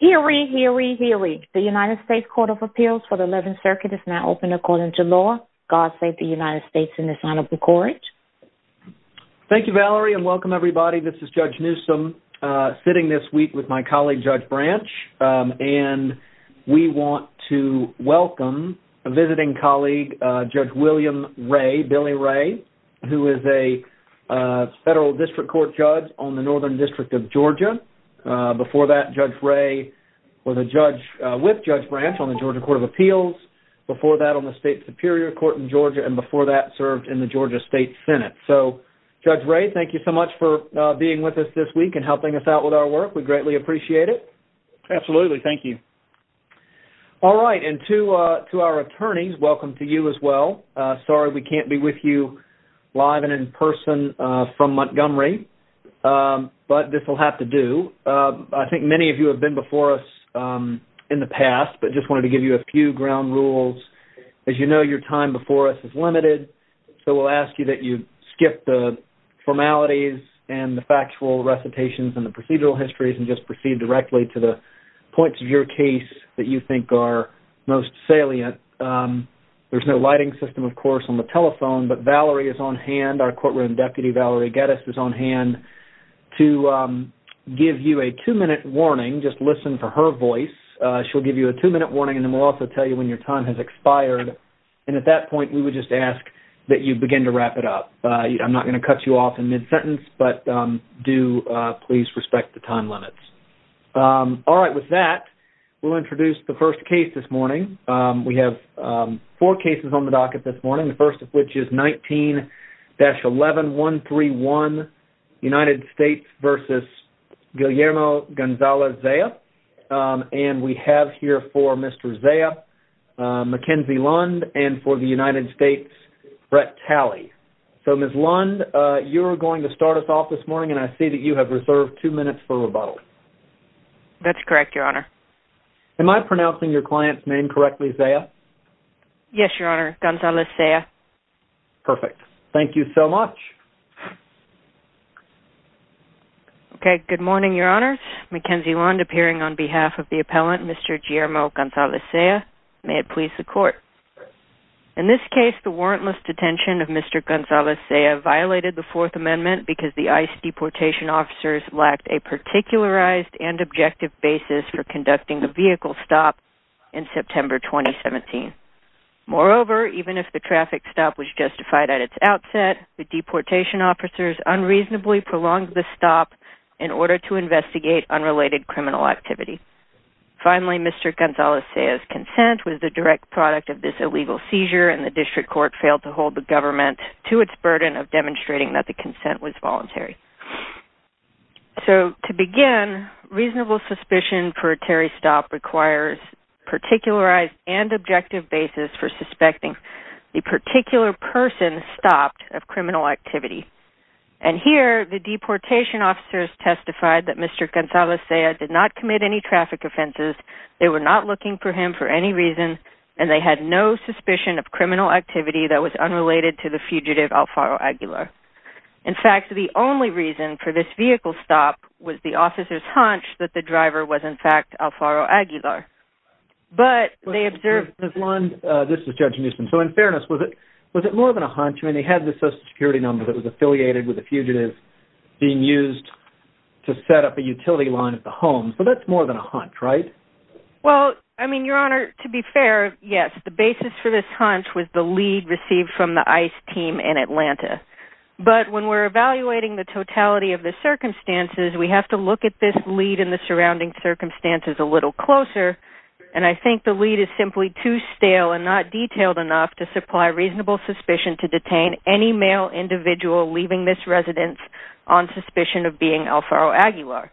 Hear ye, hear ye, hear ye. The United States Court of Appeals for the 11th Circuit is now open according to law. God save the United States in this honorable court. Thank you, Valerie, and welcome, everybody. This is Judge Newsom sitting this week with my colleague, Judge Branch, and we want to welcome a visiting colleague, Judge William Ray, Billy Ray, who is a federal district court judge on the Northern District of Georgia. Before that, Judge Ray was a judge with Judge Branch on the Georgia Court of Appeals. Before that, on the State Superior Court in Georgia, and before that, served in the Georgia State Senate. So, Judge Ray, thank you so much for being with us this week and helping us out with our work. We greatly appreciate it. Absolutely, thank you. All right, and to our attorneys, welcome to you as well. Sorry we can't be with you live and in person from Montgomery, but this will have to do. I think many of you have been before us in the past, but just wanted to give you a few ground rules. As you know, your time before us is limited, so we'll ask you that you skip the formalities and the factual recitations and the procedural histories and just proceed directly to the points of your case that you think are most salient. There's no lighting system, of course, on the telephone, but Valerie is on hand, our courtroom deputy, Valerie Geddes, is on hand to give you a two-minute warning. Just listen for her voice. She'll give you a two-minute warning, and then we'll also tell you when your time has expired. And at that point, we would just ask that you begin to wrap it up. I'm not going to cut you off in mid-sentence, but do please respect the time limits. All right, with that, we'll introduce the first case this morning. We have four cases on the docket this morning, the first of which is 19-11131, United States v. Guillermo Gonzalez Zeya, and we have here for Mr. Zeya, Mackenzie Lund, and for the United States, Brett Talley. So, Ms. Lund, you're going to start us off this morning, and I see that you have reserved two minutes for rebuttal. That's correct, your honor. Am I pronouncing your client's name correctly, Zeya? Yes, your honor, Gonzalez Zeya. Perfect. Thank you so much. Okay, good morning, your honors. Mackenzie Lund, appearing on behalf of the appellant, Mr. Guillermo Gonzalez Zeya. May it please the court. In this case, the warrantless detention of Mr. Gonzalez Zeya violated the Fourth Amendment because the ICE deportation officers lacked a particularized and objective basis for conducting the vehicle stop in September 2017. Moreover, even if the traffic stop was justified at its outset, the deportation officers unreasonably prolonged the stop in order to investigate unrelated criminal activity. Finally, Mr. Gonzalez Zeya's consent was the direct product of this illegal seizure, and the district court failed to hold the government to its burden of demonstrating that the consent was voluntary. So, to begin, reasonable suspicion for a Terry stop requires particularized and objective basis for suspecting the particular person stopped of criminal activity. And here, the deportation officers testified that Mr. Gonzalez Zeya did not commit any traffic offenses, they were not looking for him for any reason, and they had no suspicion of criminal activity that was unrelated to the fugitive Alfaro Aguilar. In fact, the only reason for this vehicle stop was the officer's hunch that the driver was, in fact, Alfaro Aguilar. But they observed... This is Judge Nussbaum. So, in fairness, was it more than a hunch? I mean, they had the social security number that was affiliated with the fugitive being used to set up a utility line at the home, so that's more than a hunch, right? Well, I mean, Your Honor, to be fair, yes. The basis for this hunch was the lead received from the ICE team in Atlanta. But when we're evaluating the totality of the circumstances, we have to look at this lead in the surrounding circumstances a little closer, and I think the lead is simply too stale and not detailed enough to supply reasonable suspicion to detain any male individual leaving this residence on suspicion of being Alfaro Aguilar.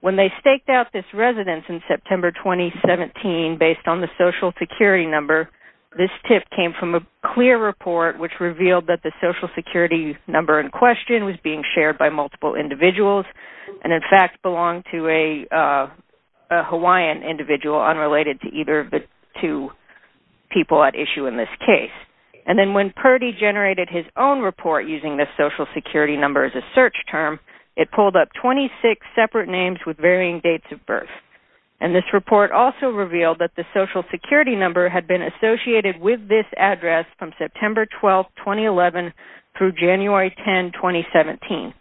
When they staked out this residence in September 2017, based on the social security number, this tip came from a clear report which revealed that the social security number in question was being shared by multiple individuals and, in fact, belonged to a Hawaiian individual unrelated to either of the two people at issue in this case. And then when Purdy generated his own report using this social security number as a search term, it pulled up 26 separate names with varying dates of birth. And this report also revealed that the social security number had been associated with this address from September 12, 2011 through January 10, 2017.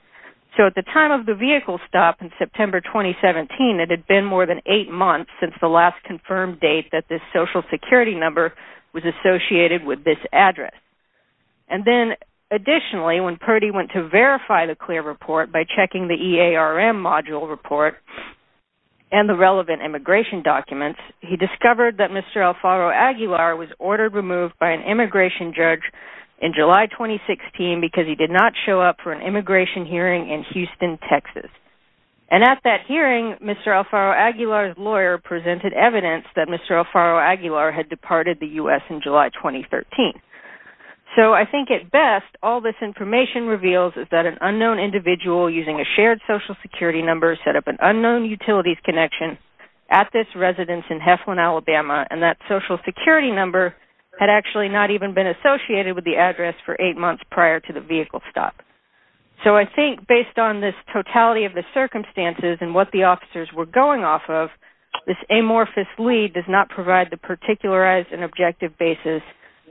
So at the time of the vehicle stop in September 2017, it had been more than eight months since the last confirmed date that this social security number was associated with this address. And then, additionally, when Purdy went to verify the clear report by checking the EARM module report and the relevant immigration documents, he discovered that Mr. Alfaro Aguilar was ordered removed by an immigration judge in July 2016 because he did not show up for an immigration hearing in Houston, Texas. And at that hearing, Mr. Alfaro Aguilar's lawyer presented evidence that Mr. Alfaro Aguilar had departed the U.S. in July 2013. So I think, at best, all this information reveals is that an unknown individual using a shared social security number set up an unknown utilities connection at this residence in Heflin, Alabama, and that social security number had actually not even been associated with the address for eight months prior to the vehicle stop. So I think, based on this totality of the circumstances and what the officers were going off of, this amorphous lead does not provide the particularized and objective basis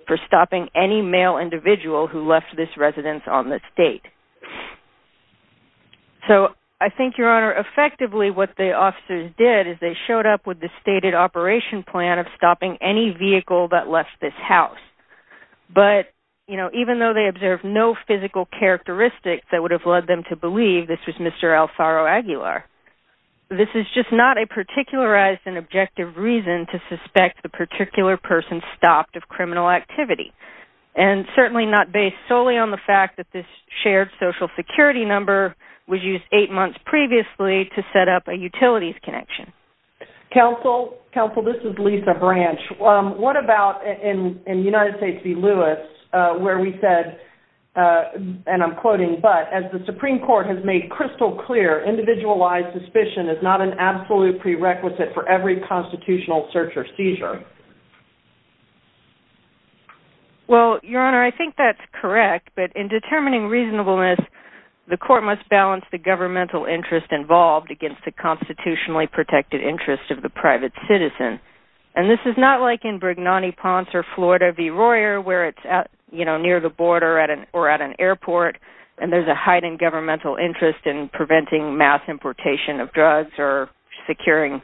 for stopping any male individual who left this residence on this date. So I think, Your Honor, effectively what the officers did is they showed up with the stated operation plan of stopping any vehicle that left this house. But, you know, even though they observed no physical characteristics that would have led them to believe this was Mr. Alfaro Aguilar, this is just not a particularized and objective reason to suspect the particular person stopped of criminal activity, and certainly not based solely on the fact that this shared social security number was used eight months previously to set up a utilities connection. Counsel, this is Lisa Branch. What about in United States v. Lewis, where we said, and I'm quoting, but as the Supreme Court has made crystal clear, individualized suspicion is not an absolute prerequisite for every constitutional search or seizure? Well, Your Honor, I think that's correct, but in determining reasonableness, the court must balance the governmental interest involved against the constitutionally protected interest of the private citizen. And this is not like in Brignani Ponce or Florida v. Royer, where it's, you know, near the border or at an airport, and there's a heightened governmental interest in preventing mass importation of drugs or securing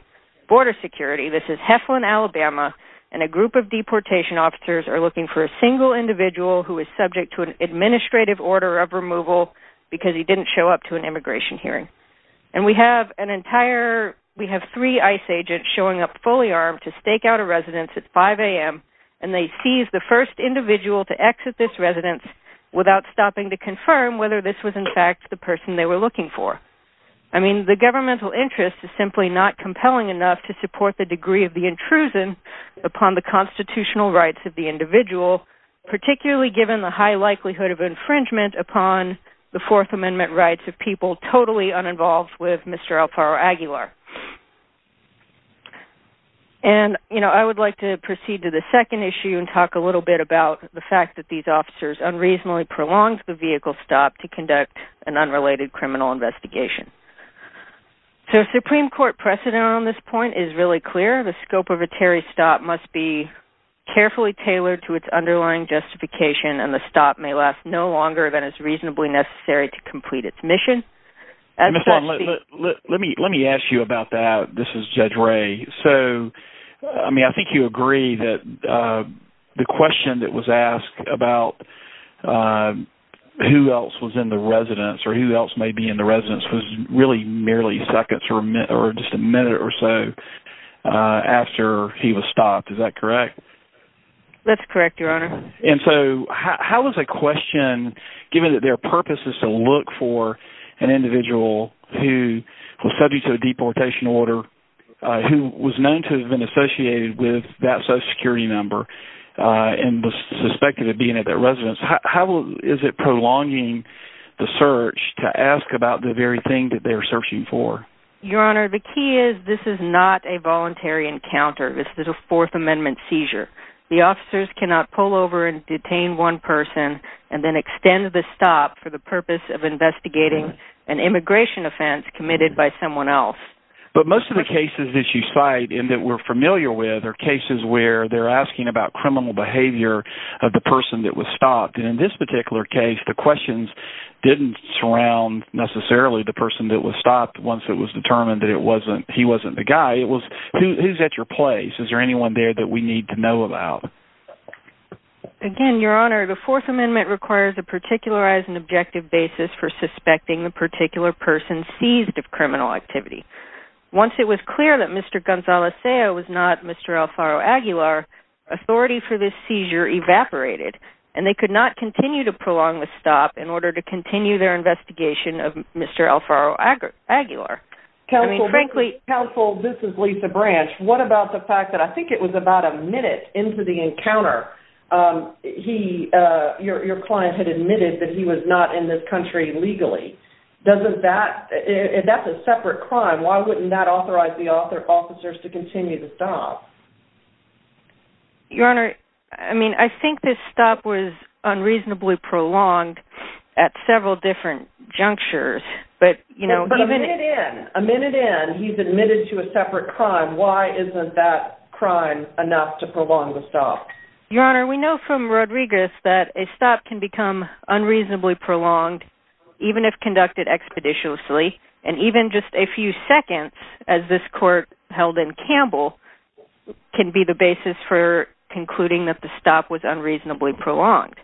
border security. This is Heflin, Alabama, and a group of deportation officers are looking for a single individual who is subject to an administrative order of removal because he didn't show up to an immigration hearing. And we have an entire, we have three ICE agents showing up fully armed to stake out a residence at 5 a.m., and they seized the first individual to exit this residence without stopping to confirm whether this was in fact the person they were looking for. I mean, the governmental interest is simply not compelling enough to support the degree of the intrusion upon the constitutional rights of the individual, particularly given the high likelihood of infringement upon the Fourth Amendment rights of people totally uninvolved with Mr. Alfaro Aguilar. And, you know, I would like to proceed to the second issue and talk a little bit about the fact that these officers unreasonably prolonged the vehicle stop to conduct an unrelated criminal investigation. So a Supreme Court precedent on this point is really clear. The scope of a Terry stop must be carefully tailored to its underlying justification, and the stop may last no longer than is reasonably necessary to complete its mission. Let me ask you about that. This is Judge Ray. So, I mean, I think you agree that the question that was asked about who else was in the residence or who else may be in the residence was really merely seconds or just a minute or so after he was stopped. Is that correct? That's correct, Your Honor. And so how was a question, given that their purpose is to look for an individual who was a subject of a deportation order, who was known to have been associated with that Social Security member and was suspected of being at that residence, how is it prolonging the search to ask about the very thing that they're searching for? Your Honor, the key is this is not a voluntary encounter. This is a Fourth Amendment seizure. The officers cannot pull over and detain one person and then extend the stop for the purpose of investigating an immigration offense committed by someone else. But most of the cases that you cite and that we're familiar with are cases where they're asking about criminal behavior of the person that was stopped. And in this particular case, the questions didn't surround necessarily the person that was stopped once it was determined that he wasn't the guy. It was who's at your place? Is there anyone there that we need to know about? Again, Your Honor, the Fourth Amendment requires a particularized and objective basis for suspecting the particular person seized of criminal activity. Once it was clear that Mr. Gonzalez was not Mr. Alfaro Aguilar, authority for this seizure evaporated and they could not continue to prolong the stop in order to continue their investigation of Mr. Alfaro Aguilar. I mean, frankly... Counsel, this is Lisa Branch. What about the fact that I think it was about a minute into the encounter, your client had admitted that he was not in this country legally. If that's a separate crime, why wouldn't that authorize the officers to continue the stop? Your Honor, I mean, I think this stop was unreasonably prolonged at several different junctures, but you know... But a minute in, a minute in, he's admitted to a separate crime. Why isn't that enough to prolong the stop? Your Honor, we know from Rodriguez that a stop can become unreasonably prolonged even if conducted expeditiously, and even just a few seconds, as this court held in Campbell, can be the basis for concluding that the stop was unreasonably prolonged.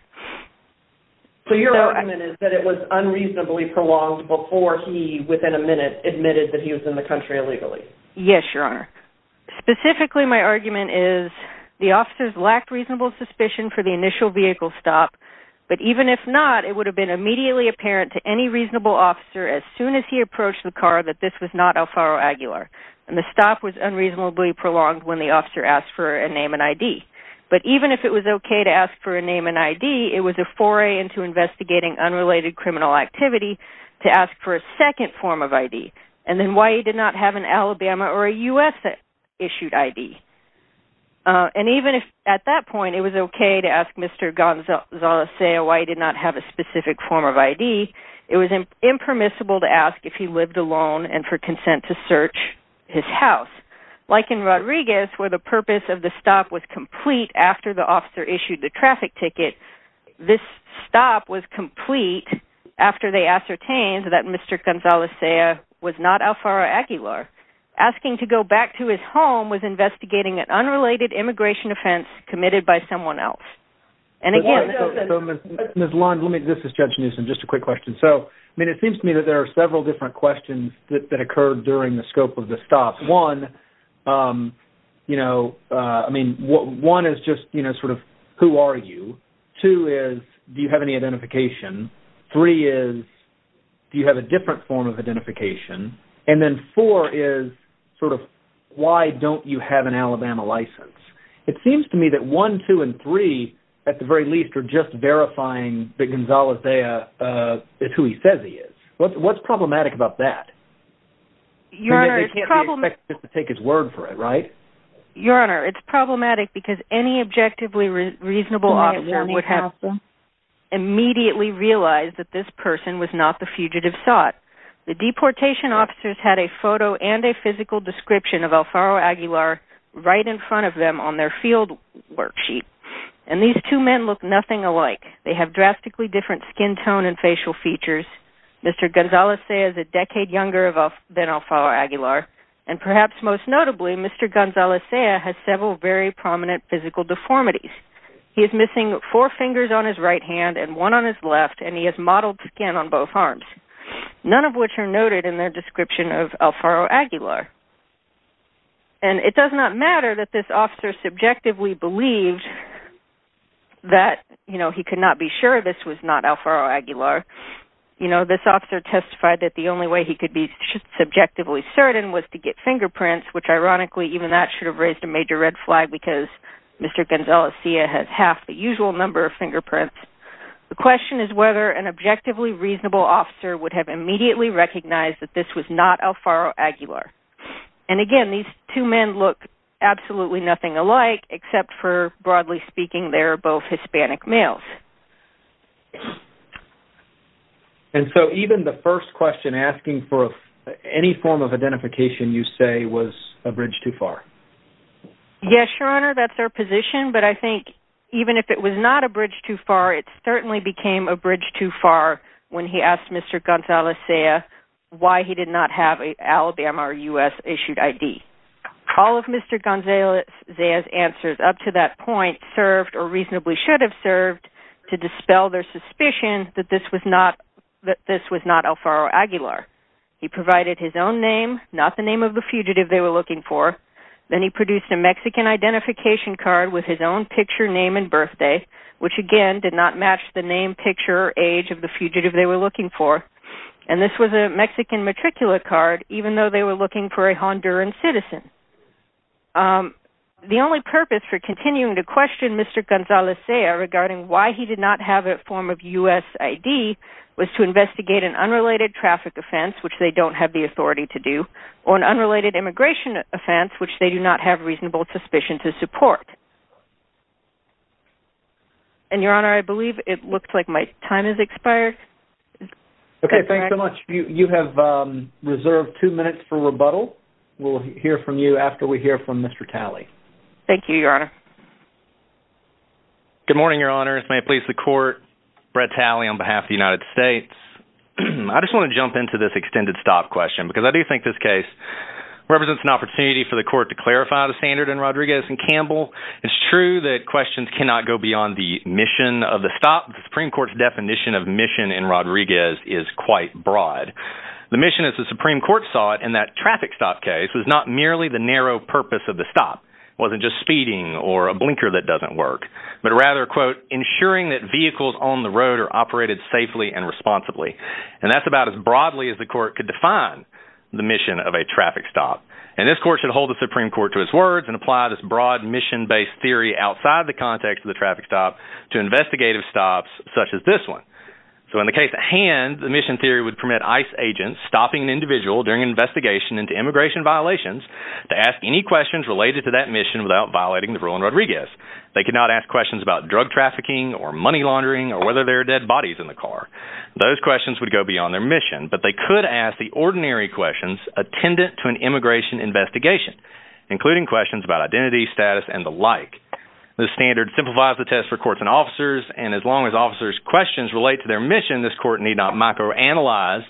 So your argument is that it was unreasonably prolonged before he, within a minute, admitted that he was in the country illegally? Yes, your Honor. Specifically, my argument is the officers lacked reasonable suspicion for the initial vehicle stop, but even if not, it would have been immediately apparent to any reasonable officer as soon as he approached the car that this was not Alfaro Aguilar, and the stop was unreasonably prolonged when the officer asked for a name and ID. But even if it was okay to ask for a name and ID, it was a foray into investigating unrelated criminal activity to ask for a second form of ID. And then why he did not have an Alabama or a U.S.-issued ID? And even if at that point it was okay to ask Mr. Gonzalez-Sea why he did not have a specific form of ID, it was impermissible to ask if he lived alone and for consent to search his house. Like in Rodriguez, where the purpose of the stop was complete after the officer issued the traffic ticket, this stop was complete after they ascertained that Mr. Gonzalez-Sea, asking to go back to his home, was investigating an unrelated immigration offense committed by someone else. And again... Ms. Lund, let me... This is Judge Newsom. Just a quick question. So, I mean, it seems to me that there are several different questions that occurred during the scope of the stop. One, you know, I mean, one is just, you know, sort of, who are you? Two is, do you have any identification? And then four is, sort of, why don't you have an Alabama license? It seems to me that one, two, and three, at the very least, are just verifying that Gonzalez-Sea is who he says he is. What's problematic about that? Your Honor, it's problematic because any objectively reasonable officer would have immediately realized that this person was not the fugitive sought. The deportation officers had a photo and a physical description of Alfaro Aguilar right in front of them on their field worksheet. And these two men look nothing alike. They have drastically different skin tone and facial features. Mr. Gonzalez-Sea is a decade younger than Alfaro Aguilar. And perhaps most notably, Mr. Gonzalez-Sea has several very prominent physical deformities. He is missing four fingers on his right hand and one on his left, and he has mottled skin on both arms, none of which are noted in their description of Alfaro Aguilar. And it does not matter that this officer subjectively believed that, you know, he could not be sure this was not Alfaro Aguilar. You know, this officer testified that the only way he could be subjectively certain was to get fingerprints, which ironically, even that should have raised a major red flag because Mr. Gonzalez-Sea has half the usual number of fingerprints. The question is whether an objectively reasonable officer would have immediately recognized that this was not Alfaro Aguilar. And again, these two men look absolutely nothing alike, except for, broadly speaking, they're both Hispanic males. And so even the first question asking for any form of identification you say was a bridge too far. Yes, your honor, that's our position. But I think even if it was not a when he asked Mr. Gonzalez-Sea why he did not have an Alabama or U.S. issued ID, all of Mr. Gonzalez-Sea's answers up to that point served or reasonably should have served to dispel their suspicion that this was not Alfaro Aguilar. He provided his own name, not the name of the fugitive they were looking for. Then he produced a Mexican identification card with his own picture, name, and birthday, which again did not match the name, picture, age of the fugitive they were looking for. And this was a Mexican matriculate card, even though they were looking for a Honduran citizen. The only purpose for continuing to question Mr. Gonzalez-Sea regarding why he did not have a form of U.S. ID was to investigate an unrelated traffic offense, which they don't have the authority to do, or an unrelated immigration offense, which they do not have reasonable suspicion to support. And, Your Honor, I believe it looks like my time has expired. Okay, thanks so much. You have reserved two minutes for rebuttal. We'll hear from you after we hear from Mr. Talley. Thank you, Your Honor. Good morning, Your Honor. It's my pleasure to court Brett Talley on behalf of the United States. I just want to jump into this extended stop question because I do think this case represents an opportunity for the court to clarify the standard in Rodriguez and Campbell. It's true that questions cannot go beyond the mission of the stop. The Supreme Court's definition of mission in Rodriguez is quite broad. The mission, as the Supreme Court saw it, in that traffic stop case was not merely the narrow purpose of the stop. It wasn't just speeding or a blinker that doesn't work, but rather, quote, ensuring that vehicles on the road are operated safely and responsibly. And that's about as broadly as the court could define the mission of a traffic stop. And this court should hold the Supreme Court to its words and apply this broad mission-based theory outside the context of the traffic stop to investigative stops such as this one. So in the case at hand, the mission theory would permit ICE agents stopping an individual during an investigation into immigration violations to ask any questions related to that mission without violating the rule in Rodriguez. They could not ask questions about drug trafficking or money laundering or whether there are dead bodies in the car. Those questions would go beyond their mission, but they could ask the ordinary questions attendant to an immigration investigation, including questions about identity, status, and the like. The standard simplifies the test for courts and officers. And as long as officers' questions relate to their mission, this court need not microanalyze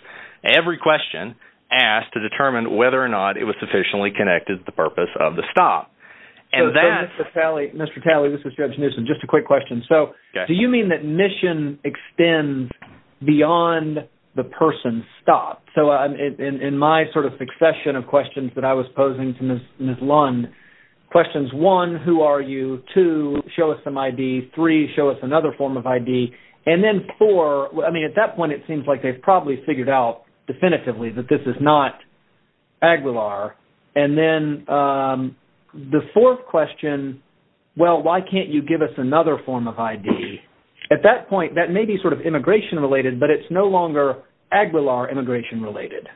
every question asked to determine whether or not it was sufficiently connected to the purpose of the stop. And that... So Mr. Talley, this is Judge Newsom. Just a quick question. So do you mean that mission extends beyond the person's stop? So in my sort of succession of questions that I was posing to Ms. Lund, questions one, who are you? Two, show us some ID. Three, show us another form of ID. And then four, I mean, at that point, it seems like they've probably figured out definitively that this is not Aguilar. And then the fourth question, well, why can't you give us another form of ID? At that point, that may be sort of immigration-related, but it's no longer Aguilar immigration-related.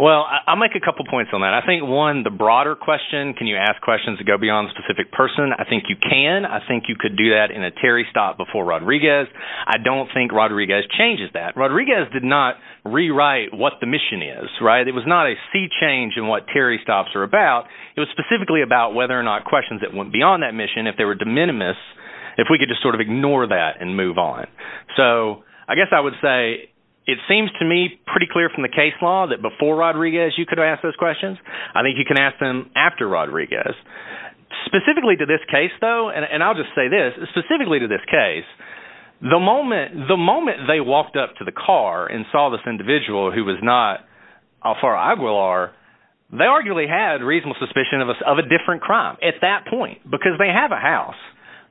Well, I'll make a couple points on that. I think one, the broader question, can you ask questions to go beyond a specific person? I think you can. I think you could do that in a Terry stop before Rodriguez. I don't think Rodriguez changes that. Rodriguez did not rewrite what the mission is, right? It was not a sea change in what Terry stops are about. It was specifically about whether or not questions that went beyond that mission, if they were de minimis, if we could just sort of ignore that and move on. So I guess I would say it seems to me pretty clear from the case law that before Rodriguez, you could ask those questions. I think you can ask them after Rodriguez. Specifically to this case, though, and I'll just say this, specifically to this case, the moment they walked up to the car and saw this individual who was not Alfaro Aguilar, they arguably had reasonable suspicion of a different crime at that point, because they have a house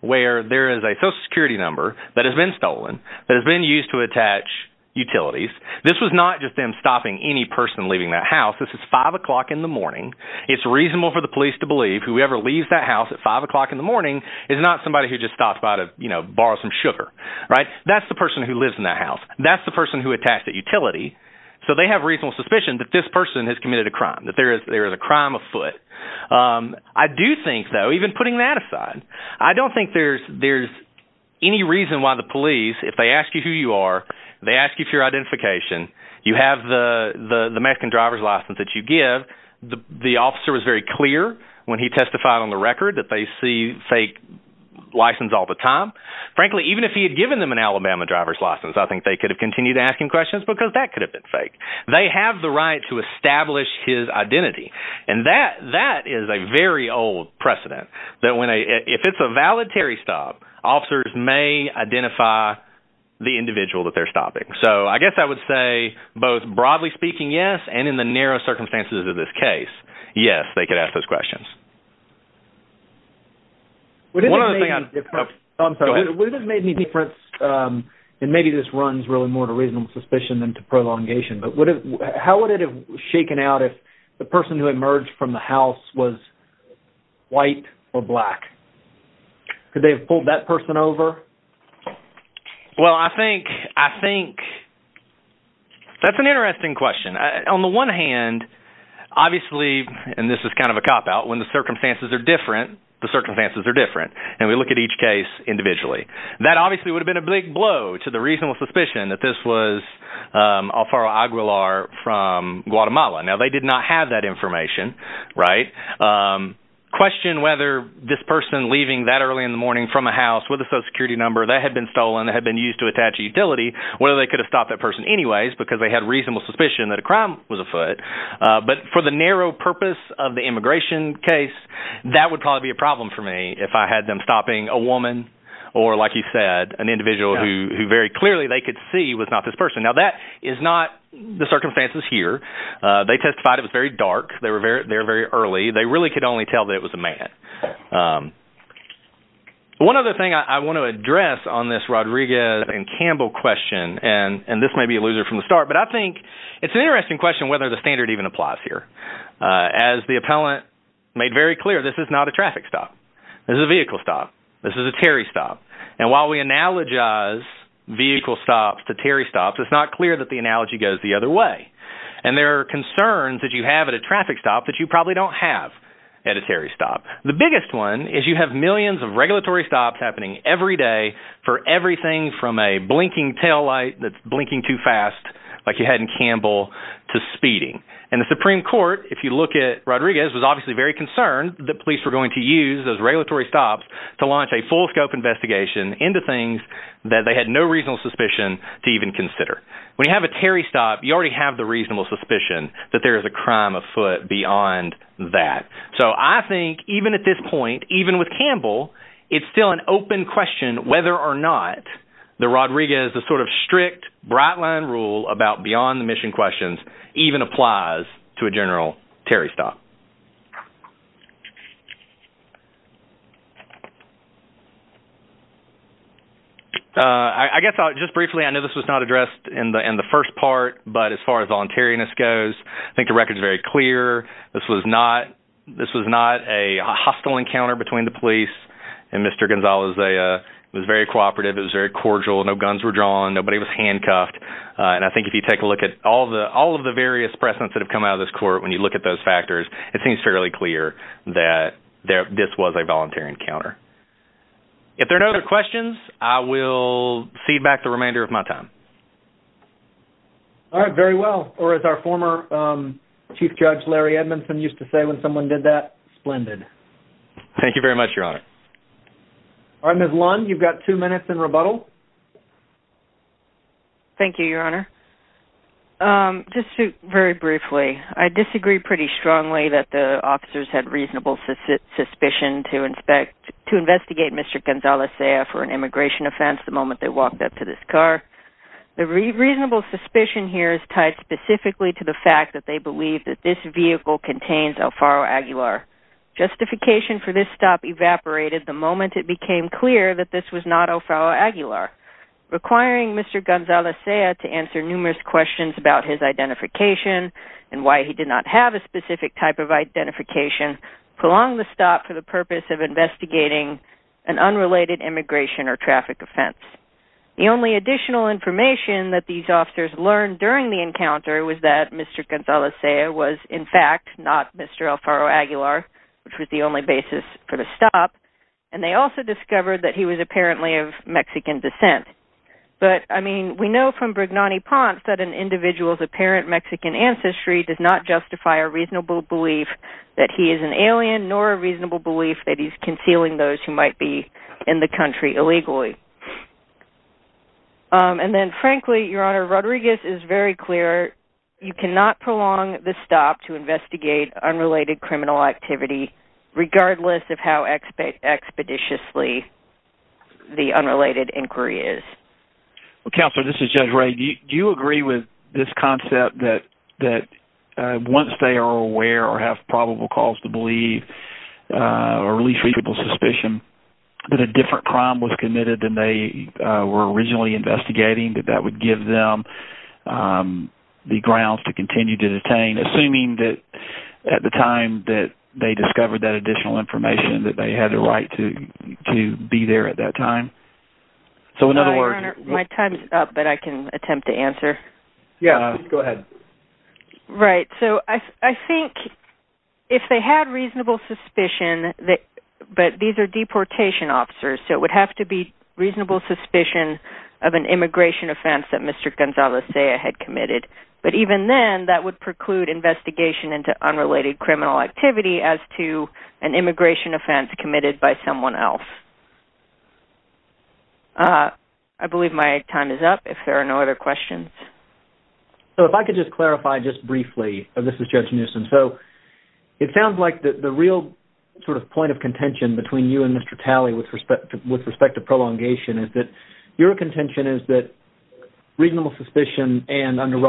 where there is a social security number that has been stolen, that has been used to attach utilities. This was not just them stopping any person leaving that house. This is five o'clock in the morning. It's reasonable for the police to believe whoever leaves that house at five o'clock in the morning is not somebody who just stops by to borrow some sugar, right? That's the person who lives in that house. That's the person who attached that utility. So they have reasonable suspicion that this person has committed a crime, that there is a crime afoot. I do think, though, even putting that aside, I don't think there's any reason why the police, if they ask you who you are, they ask you for your identification, you have the Mexican driver's license that you give. The officer was very clear when he testified on the record that they see fake license all the time. Frankly, even if he had given them an Alabama driver's license, I think they could have continued asking questions because that could have been fake. They have the right to establish his identity. And that is a very old precedent. If it's a valid Terry stop, officers may identify the individual that they're stopping. So I guess I would say, both broadly speaking, yes, and in the narrow circumstances of this case, yes, they could ask those questions. One other thing I'm sorry, we just made me different. And maybe this runs really more to reasonable suspicion than to prolongation. But what is how would it have shaken out if the person who emerged from the house was white or black? Could they have pulled that person over? Well, I think I think that's an interesting question. On the one hand, obviously, and this is kind of a cop out when the circumstances are different, the circumstances are different. And we look at each case individually. That obviously would have been a big blow to the reasonable suspicion that this was Alfaro Aguilar from Guatemala. Now, they did not have that information, right? Question whether this person leaving that early in the morning from a house with a social security number that had been stolen, that had been used to attach a utility, whether they could have stopped that person anyways, because they reasonable suspicion that a crime was afoot. But for the narrow purpose of the immigration case, that would probably be a problem for me if I had them stopping a woman, or like you said, an individual who very clearly they could see was not this person. Now, that is not the circumstances here. They testified it was very dark. They were very, they're very early, they really could only tell that it was a man. One other thing I want to address on this Rodriguez and Campbell question, and this may be a loser from the start, but I think it's an interesting question whether the standard even applies here. As the appellant made very clear, this is not a traffic stop. This is a vehicle stop. This is a Terry stop. And while we analogize vehicle stops to Terry stops, it's not clear that the analogy goes the other way. And there are concerns that you have at a traffic stop that you probably don't have at a Terry stop. The biggest one is you have millions of regulatory stops happening every day for everything from a blinking taillight that's blinking too fast, like you had in Campbell, to speeding. And the Supreme Court, if you look at Rodriguez, was obviously very concerned that police were going to use those regulatory stops to launch a full scope investigation into things that they had no reasonable suspicion to even consider. When you have a Terry stop, you already have the reasonable suspicion that there is a crime afoot beyond that. So I think even at this point, even with Campbell, it's still an open question whether or not the Rodriguez, the sort of strict bright line rule about beyond the mission questions, even applies to a general Terry stop. I guess just briefly, I know this was not addressed in the first part, but as far as voluntariness goes, I think the record is very clear. This was not a hostile encounter between the police and Mr. Gonzalez. It was very cooperative, it was very cordial, no guns were drawn, nobody was handcuffed. And I think if you take a look at all of the various precedents that have come out of this court, when you look at those factors, it seems fairly clear that this was a voluntary encounter. If there are no other questions, I will cede back the remainder of my time. All right, very well. Or as our former Chief Judge Larry Edmondson used to say, when someone did that, splendid. Thank you very much, Your Honor. All right, Ms. Lund, you've got two minutes in rebuttal. Thank you, Your Honor. Just very briefly, I disagree pretty strongly that the officers had reasonable suspicion to inspect to investigate Mr. Gonzalez for an immigration offense the moment they walked up to this car. The reasonable suspicion here is tied specifically to the fact that they believe that this vehicle contains Alfaro Aguilar. Justification for this stop evaporated the moment it became clear that this was not Alfaro Aguilar. Requiring Mr. Gonzalez to answer numerous questions about his identification and why he did not have a specific type of identification prolonged the stop for the purpose of investigating an unrelated immigration or traffic offense. The only additional information that these officers learned during the encounter was that Mr. Gonzalez was, in fact, not Mr. Alfaro Aguilar, which was the only basis for the stop. And they also discovered that he was apparently of Mexican descent. But, I mean, we know from Brignani Ponce that an individual's apparent Mexican ancestry does not justify a reasonable belief that he is an alien nor a reasonable belief that he's concealing those who might be in the country illegally. And then, frankly, Your Honor, Rodriguez is very clear. You cannot prolong the stop to investigate unrelated criminal activity regardless of how expeditiously the unrelated inquiry is. Well, Counselor, this is Judge Ray. Do you agree with this concept that once they are aware or have probable cause to believe or at least reasonable suspicion that a different crime was committed than they were originally investigating, that that would give them the grounds to continue to detain, assuming that at the time that they discovered that additional information, that they had the right to be there at that time? So, in other words... Your Honor, my time's up, but I can attempt to answer. Yeah, go ahead. Right. So, I think if they had reasonable suspicion that... But these are deportation officers, so it would have to be reasonable suspicion of an immigration offense that Mr. Gonzalez-Zea had committed. But even then, that would preclude investigation into unrelated criminal activity as to an immigration offense committed by someone else. I believe my time is up, if there are no other questions. So, if I could just clarify just briefly, this is Judge Newsom. So, it sounds like the real sort of point of contention between you and Mr. Talley with respect to prolongation is that your contention is that reasonable suspicion and under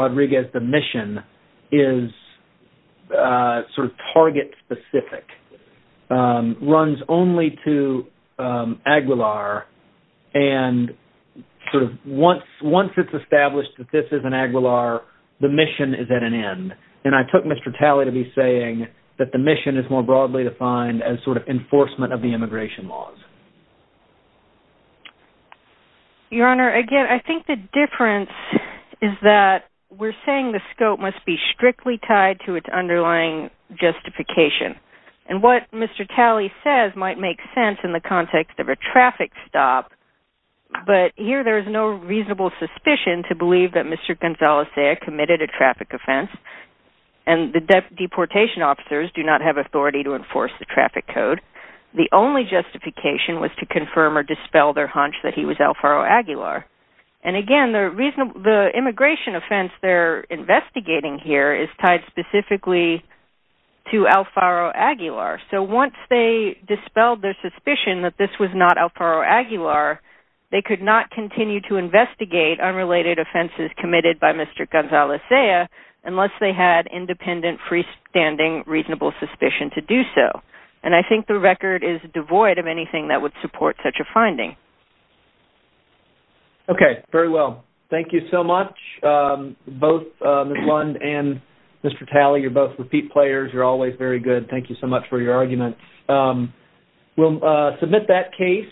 Aguilar, and sort of once it's established that this is an Aguilar, the mission is at an end. And I took Mr. Talley to be saying that the mission is more broadly defined as sort of enforcement of the immigration laws. Your Honor, again, I think the difference is that we're saying the scope must be strictly tied to its underlying justification. And what Mr. Talley says might make sense in the context of a traffic stop, but here there's no reasonable suspicion to believe that Mr. Gonzalez-Zea committed a traffic offense, and the deportation officers do not have authority to enforce the traffic code. The only justification was to confirm or dispel their hunch that he was Alfaro Aguilar. And again, the immigration offense they're investigating here is tied specifically to Alfaro Aguilar. So, once they dispelled their suspicion that this was not Alfaro Aguilar, they could not continue to investigate unrelated offenses committed by Mr. Gonzalez-Zea unless they had independent freestanding reasonable suspicion to do so. And I think the record is devoid of anything that would support such a finding. Okay. Very well. Thank you so much, both Ms. Lund and Mr. Talley. You're both repeat players. You're always very good. Thank you so much for your argument. We'll submit that case.